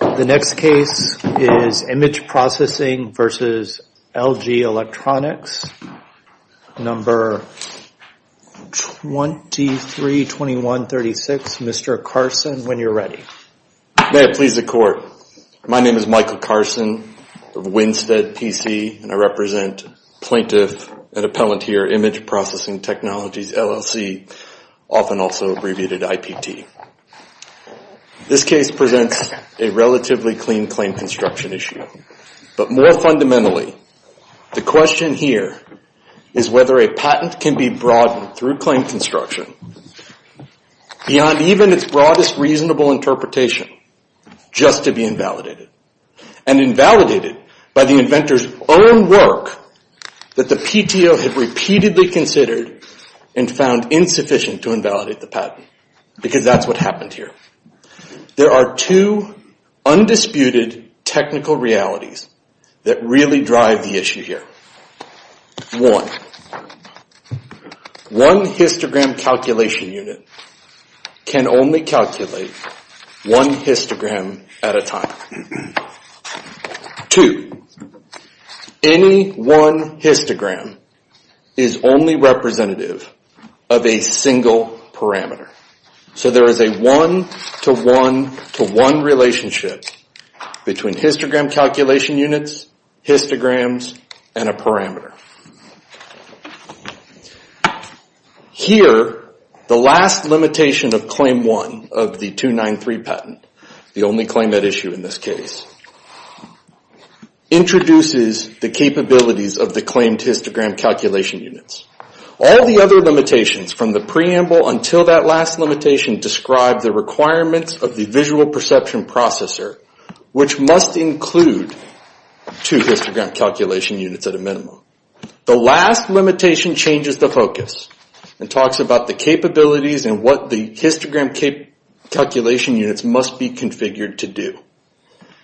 The next case is Image Processing v. LG Electronics, number 232136. Mr. Carson, when you're ready. May it please the court. My name is Michael Carson of Winstead, PC, and I represent plaintiff and appellant here, Image Processing Technologies, LLC, often also abbreviated IPT. This case presents a relatively clean claim construction issue. But more fundamentally, the question here is whether a patent can be broadened through claim construction beyond even its broadest reasonable interpretation just to be invalidated. And invalidated by the inventor's own work that the PTO had repeatedly considered and found insufficient to invalidate the patent, because that's not the case. There are two undisputed technical realities that really drive the issue here. One, one histogram calculation unit can only calculate one histogram at a time. Two, any one histogram is only representative of a single parameter. So there is a one-to-one-to-one relationship between histogram calculation units, histograms, and a parameter. Here, the last limitation of Claim 1 of the 293 patent, the only claim at issue in this case, introduces the capabilities of the claimed histogram calculation units. All the other limitations from the preamble until that last limitation describe the requirements of the visual perception processor, which must include two histogram calculation units at a minimum. The last limitation changes the focus and talks about the capabilities and what the histogram calculation units must be configured to do.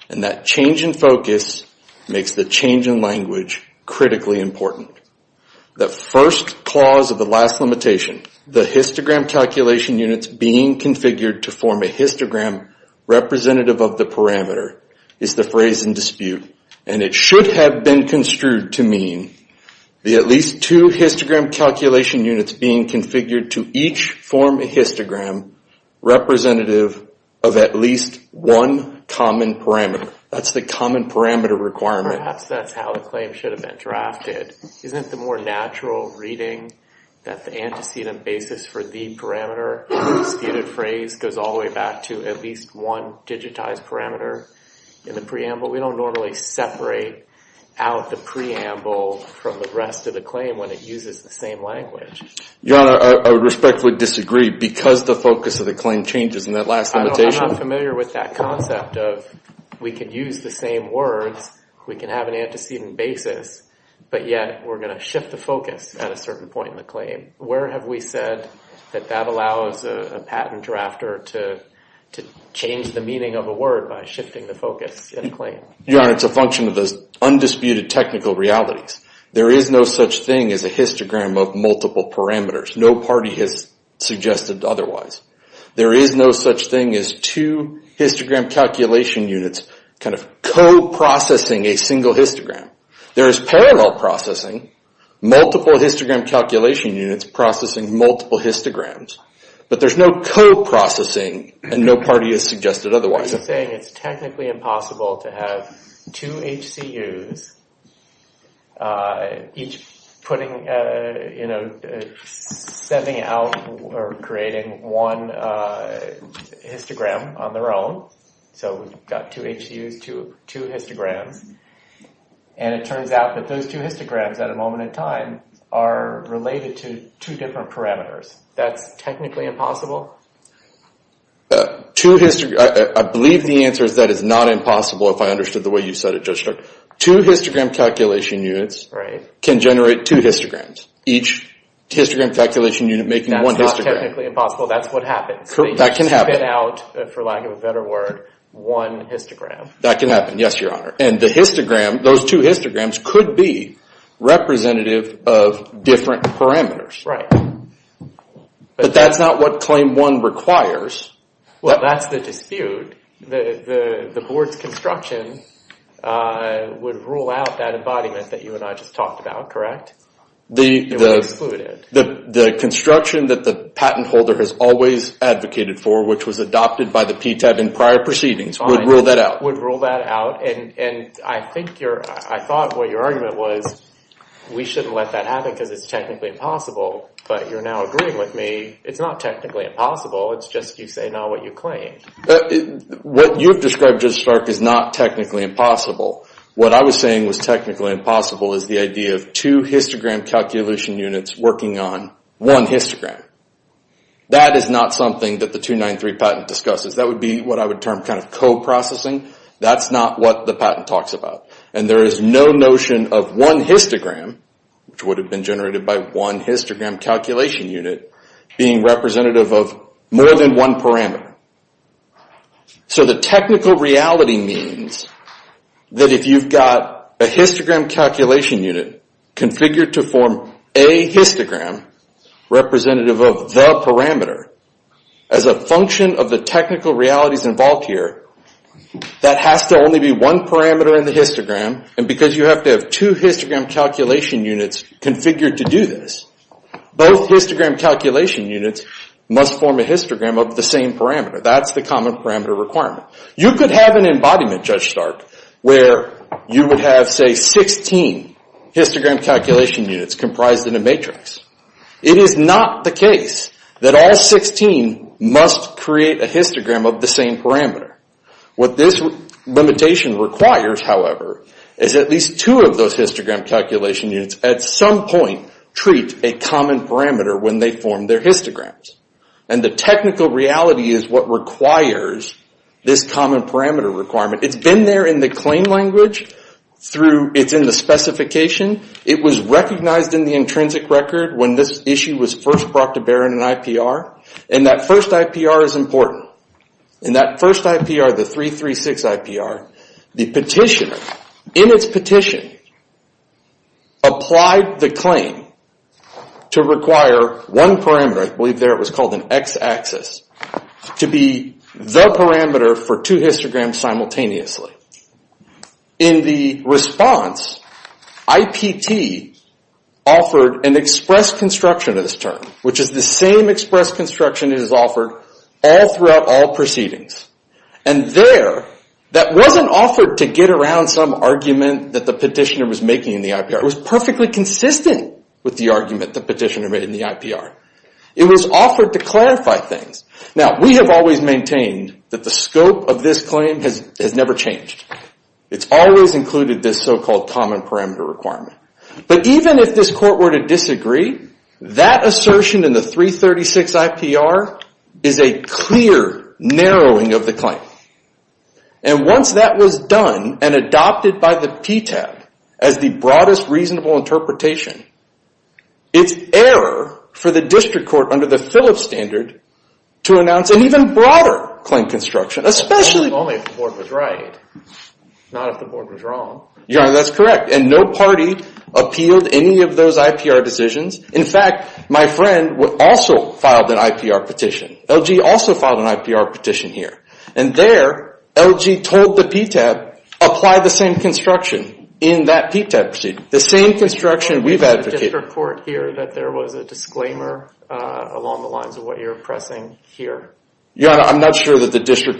And that change in focus makes the change in language critically important. The first clause of the last limitation, the histogram calculation units being configured to form a histogram representative of the parameter, is the phrase in dispute. And it should have been construed to mean the at least two histogram calculation units being configured to each form a histogram representative of at least one common parameter. That's the common parameter requirement. Perhaps that's how the claim should have been drafted. Isn't it the more natural reading that the antecedent basis for the parameter disputed phrase goes all the way back to at least one digitized parameter in the preamble? We don't normally separate out the preamble from the rest of the claim when it uses the same language. Your Honor, I respectfully disagree because the focus of the claim changes in that last limitation. I'm not familiar with that concept of we can use the same words, we can have an antecedent basis, but yet we're going to shift the focus at a certain point in the claim. Where have we said that that allows a patent drafter to change the meaning of a word by shifting the focus in a claim? Your Honor, it's a function of those undisputed technical realities. There is no such thing as a histogram of multiple parameters. No party has suggested otherwise. There is no such thing as two histogram calculation units kind of co-processing a single histogram. There is parallel processing, multiple histogram calculation units processing multiple histograms. But there's no co-processing and no party has suggested otherwise. You're saying it's technically impossible to have two HCUs each putting in a single histogram. Setting out or creating one histogram on their own. So we've got two HCUs, two histograms. And it turns out that those two histograms at a moment in time are related to two different parameters. That's technically impossible? I believe the answer is that it's not impossible if I understood the way you said it, Judge Strzok. Two histogram calculation units can generate two histograms. Each histogram calculation unit making one histogram. That's not technically impossible, that's what happens. That can happen, yes, Your Honor. And those two histograms could be representative of different parameters. But that's not what Claim 1 requires. Well, that's the dispute. The board's construction would rule out that embodiment that you and I just talked about, correct? The construction that the patent holder has always advocated for, which was adopted by the PTAT in prior proceedings, would rule that out. And I thought what your argument was, we shouldn't let that happen because it's technically impossible. But you're now agreeing with me. It's not technically impossible, it's just you say now what you claim. What you've described, Judge Strzok, is not technically impossible. What I was saying was technically impossible is the idea of two histogram calculation units working on one histogram. That is not something that the 293 patent discusses. That would be what I would term kind of co-processing. That's not what the patent talks about. And there is no notion of one histogram, which would have been generated by one histogram calculation unit, being representative of more than one parameter. So the technical reality means that if you've got a histogram calculation unit configured to form a histogram representative of the parameter, as a function of the technical realities involved here, that has to only be one parameter in the histogram. And because you have to have two histogram calculation units configured to do this, both histogram calculation units must form a histogram of the same parameter. That's the common parameter requirement. You could have an embodiment, Judge Stark, where you would have, say, 16 histogram calculation units comprised in a matrix. It is not the case that all 16 must create a histogram of the same parameter. What this limitation requires, however, is at least two of those histogram calculation units at some point treat a common parameter when they form their histograms. And the technical reality is what requires this common parameter requirement. It's been there in the claim language. It's in the specification. It was recognized in the intrinsic record when this issue was first brought to bear in an IPR. And that first IPR is important. In that first IPR, the 336 IPR, the petitioner, in its petition, applied the claim to require one parameter. I believe there it was called an x-axis, to be the parameter for two histograms simultaneously. In the response, IPT offered an express construction of this term, which is the same express construction it has offered all throughout all proceedings. And there, that wasn't offered to get around some argument that the petitioner was making in the IPR. It was perfectly consistent with the argument the petitioner made in the IPR. It was offered to clarify things. Now, we have always maintained that the scope of this claim has never changed. It's always included this so-called common parameter requirement. But even if this court were to disagree, that assertion in the 336 IPR is a clear narrowing of the claim. And once that was done and adopted by the PTAB as the broadest reasonable interpretation, it's error for the district court under the Phillips standard to announce an even broader claim construction. Not if the board was wrong. That's correct. And no party appealed any of those IPR decisions. In fact, my friend also filed an IPR petition. LG also filed an IPR petition here. And there, LG told the PTAB, apply the same construction in that PTAB proceeding. The same construction we've advocated. I'm not sure that the district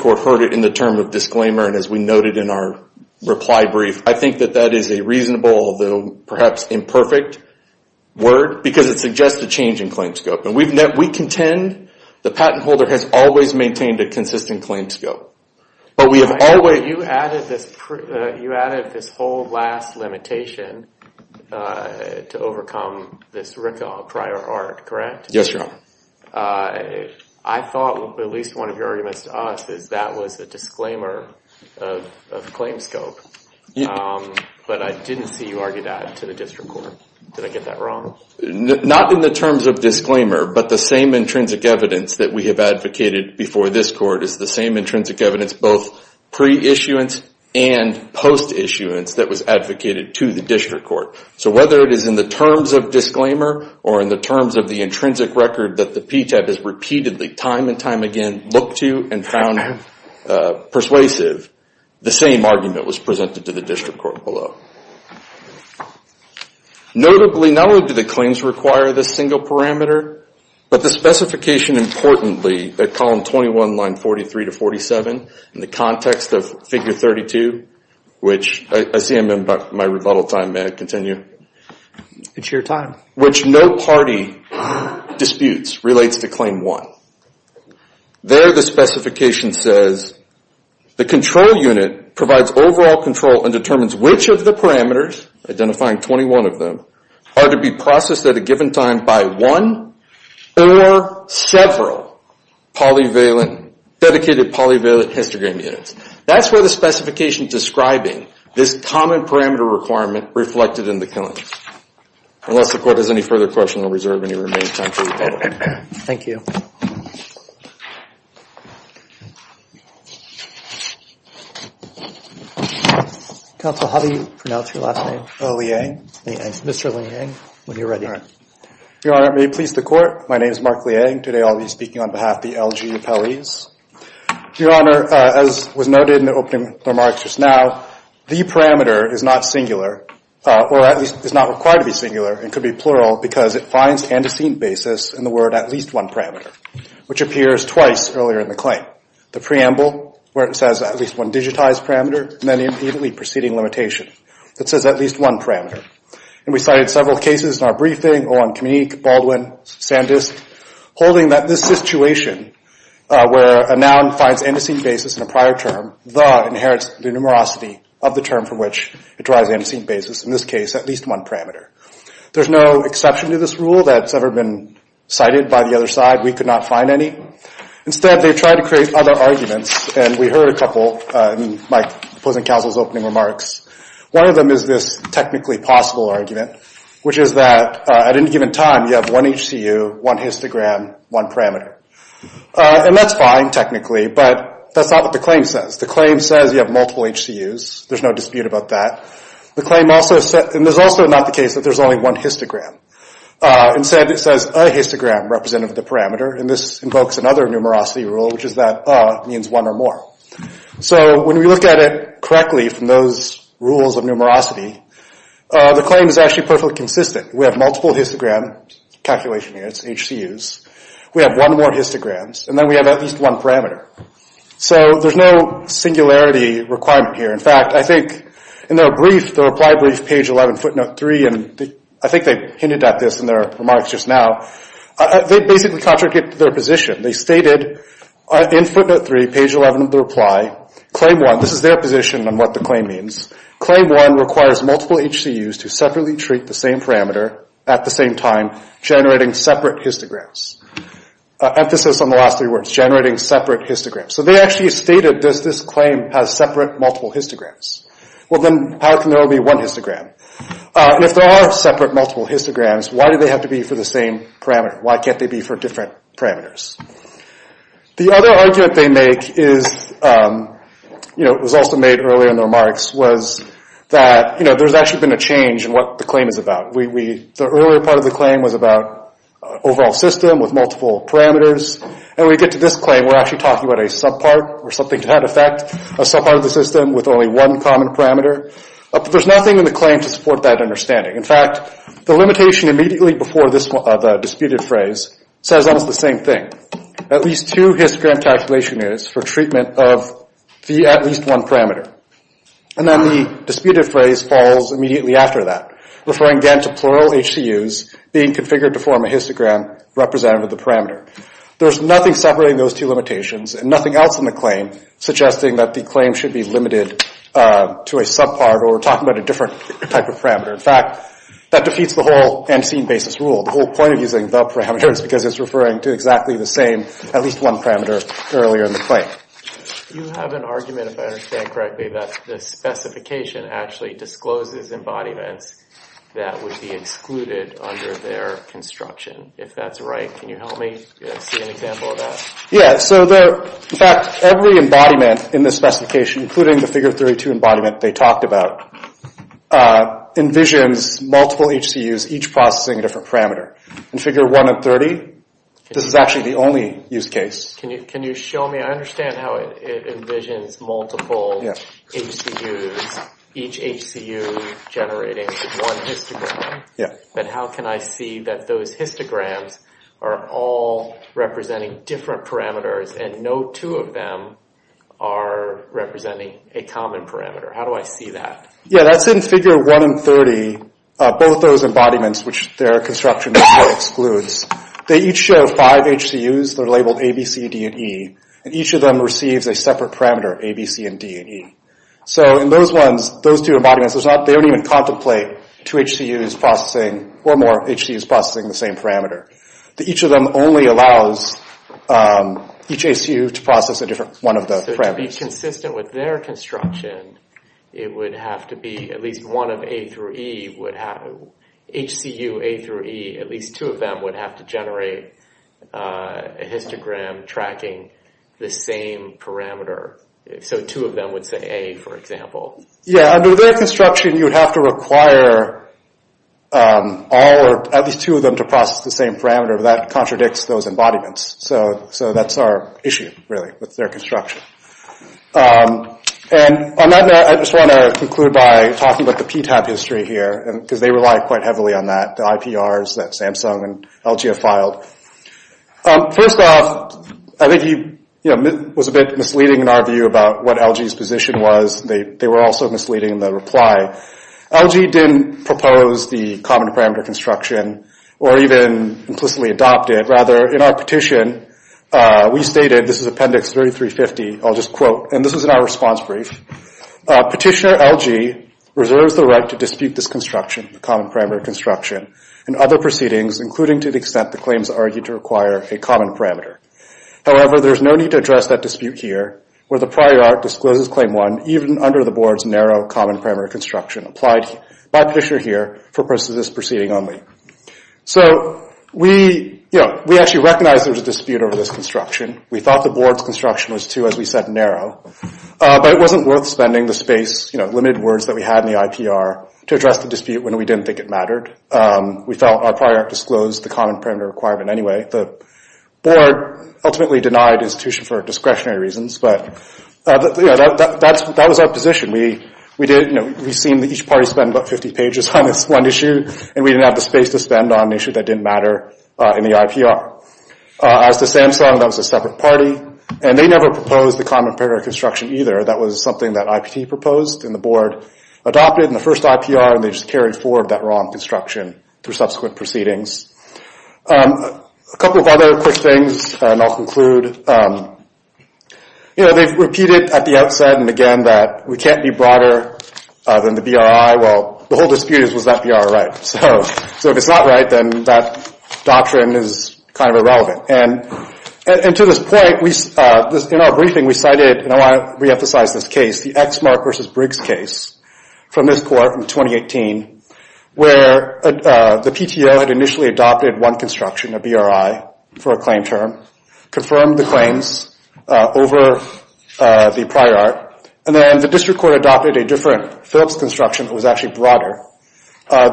court heard it in the term of disclaimer. And as we noted in our reply brief, I think that that is a reasonable, although perhaps imperfect word. Because it suggests a change in claim scope. And we contend the patent holder has always maintained a consistent claim scope. You added this whole last limitation to overcome this RICA prior art, correct? Yes, Your Honor. I thought at least one of your arguments to us is that was a disclaimer of claim scope. But I didn't see you argue that to the district court. Did I get that wrong? Not in the terms of disclaimer, but the same intrinsic evidence that we have advocated before this court is the same intrinsic evidence, both pre issuance and post issuance that was advocated to the district court. So whether it is in the terms of disclaimer or in the terms of the intrinsic record that the PTAB has repeatedly time and time again looked to and found persuasive, the same argument was presented to the district court below. Notably, not only do the claims require this single parameter, but the specification importantly that column 21, line 43 to 47, in the context of figure 32, which I see I'm in my rebuttal time. May I continue? It's your time. Which no party disputes relates to claim one. There the specification says the control unit provides overall control and determines which of the parameters, identifying 21 of them, are to be processed at a given time by one or several polyvalent, dedicated polyvalent histogram units. That's where the specification describing this common parameter requirement reflected in the killing. Unless the court has any further questions or reserve any remaining time for rebuttal. Thank you. Counsel, how do you pronounce your last name? Leang. Mr. Leang, when you're ready. Your Honor, may it please the court, my name is Mark Leang. Today I'll be speaking on behalf of the LG Appellees. Your Honor, as was noted in the opening remarks just now, the parameter is not singular, or at least is not required to be singular. It could be plural, because it finds antecedent basis in the word at least one parameter, which appears twice earlier in the claim. The preamble, where it says at least one digitized parameter, and then immediately preceding limitation. It says at least one parameter, and we cited several cases in our briefing, holding that this situation, where a noun finds antecedent basis in a prior term, inherits the numerosity of the term from which it derives the antecedent basis. In this case, at least one parameter. There's no exception to this rule that's ever been cited by the other side. We could not find any. Instead, they tried to create other arguments, and we heard a couple in my opposing counsel's opening remarks. One of them is this technically possible argument, which is that at any given time, you have one HCU, one histogram, one parameter. And that's fine, technically, but that's not what the claim says. The claim says you have multiple HCUs. There's no dispute about that. The claim also says, and this is also not the case that there's only one histogram. Instead, it says a histogram representative of the parameter, and this invokes another numerosity rule, which is that a means one or more. So when we look at it correctly from those rules of numerosity, the claim is actually perfectly consistent. We have multiple histogram calculation units, HCUs. We have one more histogram, and then we have at least one parameter. So there's no singularity requirement here. In fact, I think in their brief, the reply brief, page 11, footnote 3, and I think they hinted at this in their remarks just now, they basically contradict their position. They stated in footnote 3, page 11 of the reply, claim 1, this is their position on what the claim means. Claim 1 requires multiple HCUs to separately treat the same parameter at the same time, generating separate histograms. Emphasis on the last three words, generating separate histograms. So they actually stated this claim has separate multiple histograms. Well, then how can there only be one histogram? If there are separate multiple histograms, why do they have to be for the same parameter? Why can't they be for different parameters? The other argument they make is, it was also made earlier in the remarks, was that there's actually been a change in what the claim is about. The earlier part of the claim was about overall system with multiple parameters. And when we get to this claim, we're actually talking about a subpart or something to that effect, a subpart of the system with only one common parameter. But there's nothing in the claim to support that understanding. In fact, the limitation immediately before the disputed phrase says almost the same thing. At least two histogram calculation units for treatment of the at least one parameter. And then the disputed phrase falls immediately after that, referring again to plural HCUs being configured to form a histogram representative of the parameter. There's nothing separating those two limitations and nothing else in the claim suggesting that the claim should be limited to a subpart or we're talking about a different type of parameter. In fact, that defeats the whole unseen basis rule. The whole point of using the parameter is because it's referring to exactly the same, at least one parameter earlier in the claim. You have an argument, if I understand correctly, that the specification actually discloses embodiments that would be excluded under their construction. If that's right, can you help me see an example of that? Yeah. So, in fact, every embodiment in this specification, including the figure 32 embodiment they talked about, envisions multiple HCUs, each processing a different parameter. In figure 1 and 30, this is actually the only use case. Can you show me? I understand how it envisions multiple HCUs, each HCU generating one histogram, but how can I see that those histograms are all representing different parameters and no two of them are representing a common parameter? How do I see that? Yeah, that's in figure 1 and 30, both those embodiments, which their construction excludes, they each show five HCUs that are labeled A, B, C, D, and E, and each of them receives a separate parameter, A, B, C, and D, and E. So in those ones, those two embodiments, they don't even contemplate two HCUs processing or more HCUs processing the same parameter. Each of them only allows each HCU to process one of the parameters. So to be consistent with their construction, it would have to be at least one of A through E, HCU A through E, at least two of them would have to generate a histogram tracking the same parameter. So two of them would say A, for example. Yeah, under their construction, you would have to require all or at least two of them to process the same parameter, but that contradicts those embodiments. So that's our issue, really, with their construction. And on that note, I just want to conclude by talking about the PTAB history here, because they rely quite heavily on that, the IPRs that Samsung and LG have filed. First off, I think he was a bit misleading in our view about what LG's position was. They were also misleading in the reply. LG didn't propose the common parameter construction or even implicitly adopt it. Rather, in our petition, we stated, this is Appendix 3350, I'll just quote, and this is in our response brief, Petitioner LG reserves the right to dispute this construction, the common parameter construction, and other proceedings, including to the extent the claims argue to require a common parameter. However, there's no need to address that dispute here, where the Prior Act discloses Claim 1 even under the Board's narrow common parameter construction, applied by Petitioner here for this proceeding only. So we actually recognized there was a dispute over this construction. We thought the Board's construction was, too, as we said, narrow. But it wasn't worth spending the space, the limited words that we had in the IPR, to address the dispute when we didn't think it mattered. We felt our Prior Act disclosed the common parameter requirement anyway. The Board ultimately denied the institution for discretionary reasons, but that was our position. We did, you know, we've seen each party spend about 50 pages on this one issue, and we didn't have the space to spend on an issue that didn't matter in the IPR. As to Samsung, that was a separate party, and they never proposed the common parameter construction either. That was something that IPT proposed, and the Board adopted in the first IPR, and they just carried forward that wrong construction through subsequent proceedings. A couple of other quick things, and I'll conclude. You know, they've repeated at the outset and again that we can't be broader than the BRI. Well, the whole dispute is, was that BRI right? So if it's not right, then that doctrine is kind of irrelevant. And to this point, in our briefing, we cited, and I want to reemphasize this case, the Exmark v. Briggs case from this court in 2018, where the PTO had initially adopted one construction, a BRI, for a claim term, confirmed the claims over the Prior Act, and then the District Court adopted a different Phillips construction that was actually broader.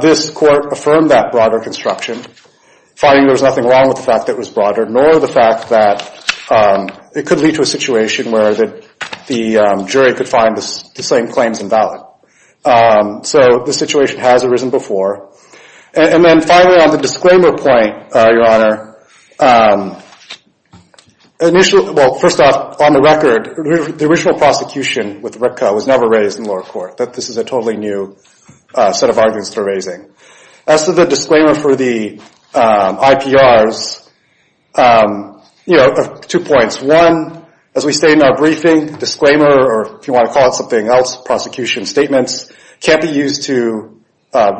This court affirmed that broader construction, finding there was nothing wrong with the fact that it was broader, nor the fact that it could lead to a situation where the jury could find the same claims invalid. So the situation has arisen before. And then finally, on the disclaimer point, Your Honor, initially, well, first off, on the record, the original prosecution with RIPCA was never raised in lower court. This is a totally new set of arguments they're raising. As to the disclaimer for the IPRs, two points. One, as we state in our briefing, disclaimer, or if you want to call it something else, prosecution statements, can't be used to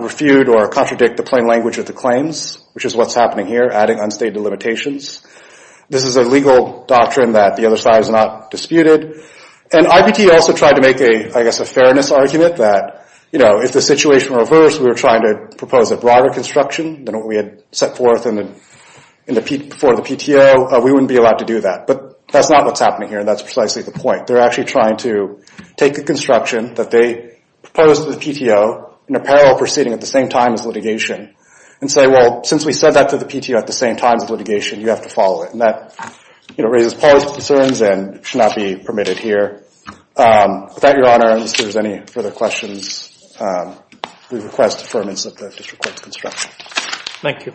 refute or contradict the plain language of the claims, which is what's happening here, adding unstated limitations. This is a legal doctrine that the other side has not disputed. And IPT also tried to make a, I guess, a fairness argument that, you know, if the situation were reversed, we were trying to propose a broader construction than what we had set forth for the PTO, we wouldn't be allowed to do that. But that's not what's happening here, and that's precisely the point. They're actually trying to take the construction that they proposed to the PTO in a parallel proceeding at the same time as litigation, and say, well, since we said that to the PTO at the same time as litigation, you have to follow it. And that, you know, raises policy concerns and should not be permitted here. With that, Your Honor, unless there's any further questions, we request affirmance of the district court's construction. Thank you.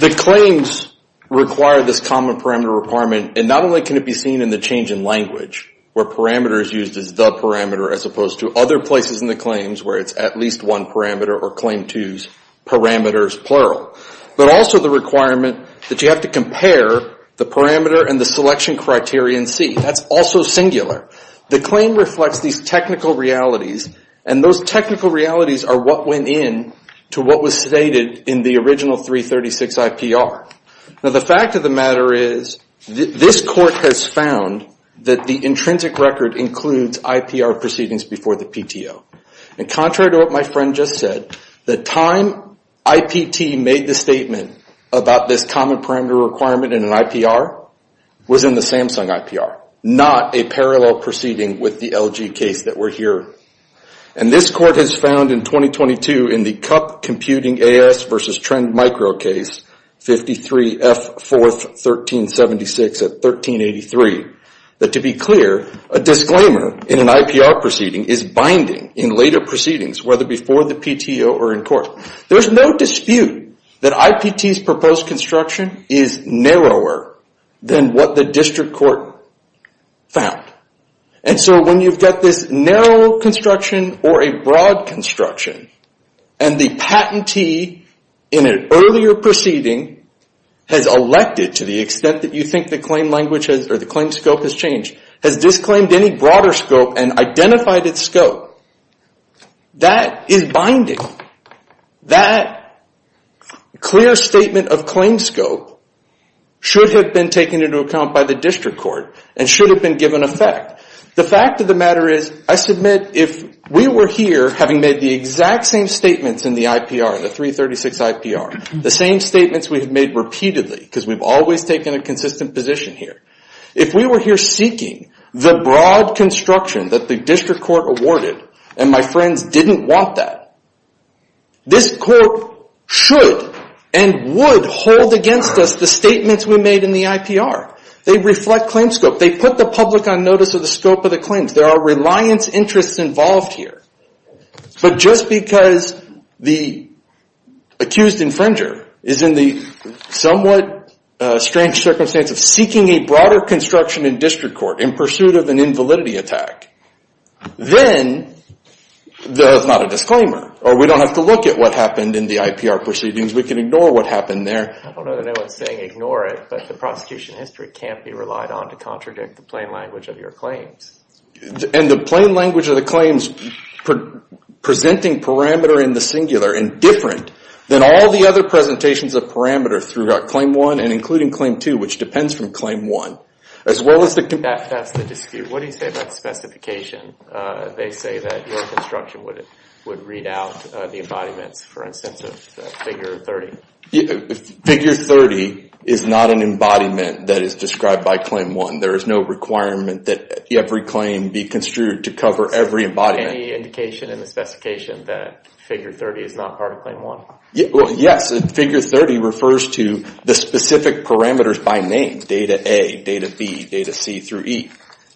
The claims require this common parameter requirement, and not only can it be seen in the change in language, where parameter is used as the parameter as opposed to other places in the claims where it's at least one parameter or Claim 2's parameters plural. But also the requirement that you have to compare the parameter and the selection criteria in C. That's also singular. The claim reflects these technical realities, and those technical realities are what went in to what was stated in the original 336 IPR. Now, the fact of the matter is this court has found that the intrinsic record includes IPR proceedings before the PTO. And contrary to what my friend just said, the time IPT made the statement about this common parameter requirement in an IPR was in the Samsung IPR, not a parallel proceeding with the LG case that we're hearing. And this court has found in 2022 in the Cup Computing AS versus Trend Micro case, 53, F4, 1376 at 1383, that to be clear, a disclaimer in an IPR proceeding is binding in later proceedings, whether before the PTO or in court. There's no dispute that IPT's proposed construction is narrower than what the district court found. And so when you've got this narrow construction or a broad construction, and the patentee in an earlier proceeding has elected to the extent that you think the claim language or the claim scope has changed, has disclaimed any broader scope and identified its scope, that is binding. That clear statement of claim scope should have been taken into account by the district court and should have been given effect. The fact of the matter is I submit if we were here, having made the exact same statements in the IPR, the 336 IPR, the same statements we have made repeatedly because we've always taken a consistent position here, if we were here seeking the broad construction that the district court awarded and my friends didn't want that, this court should and would hold against us the statements we made in the IPR. They reflect claim scope. They put the public on notice of the scope of the claims. There are reliance interests involved here. But just because the accused infringer is in the somewhat strange circumstance of seeking a broader construction in district court in pursuit of an invalidity attack, then that's not a disclaimer. Or we don't have to look at what happened in the IPR proceedings. We can ignore what happened there. I don't know that anyone is saying ignore it, but the prosecution history can't be relied on to contradict the plain language of your claims. And the plain language of the claims presenting parameter in the singular and different than all the other presentations of parameter throughout claim one and including claim two, which depends from claim one. That's the dispute. What do you say about specification? They say that your construction would read out the embodiments, for instance, of figure 30. Figure 30 is not an embodiment that is described by claim one. There is no requirement that every claim be construed to cover every embodiment. Any indication in the specification that figure 30 is not part of claim one? Yes. Figure 30 refers to the specific parameters by name, data A, data B, data C through E.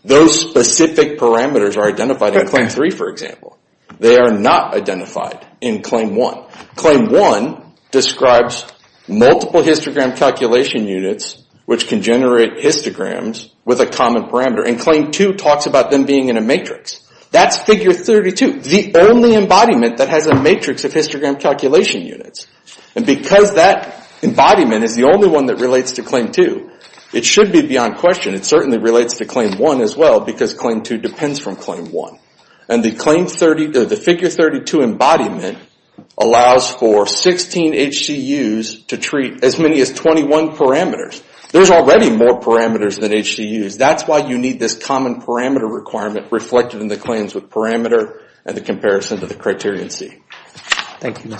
Those specific parameters are identified in claim three, for example. They are not identified in claim one. Claim one describes multiple histogram calculation units which can generate histograms with a common parameter. And claim two talks about them being in a matrix. That's figure 32, the only embodiment that has a matrix of histogram calculation units. And because that embodiment is the only one that relates to claim two, it should be beyond question. It certainly relates to claim one as well because claim two depends from claim one. And the figure 32 embodiment allows for 16 HCUs to treat as many as 21 parameters. There's already more parameters than HCUs. That's why you need this common parameter requirement reflected in the claims with parameter and the comparison to the criterion C. Thank you, Mr. Carson.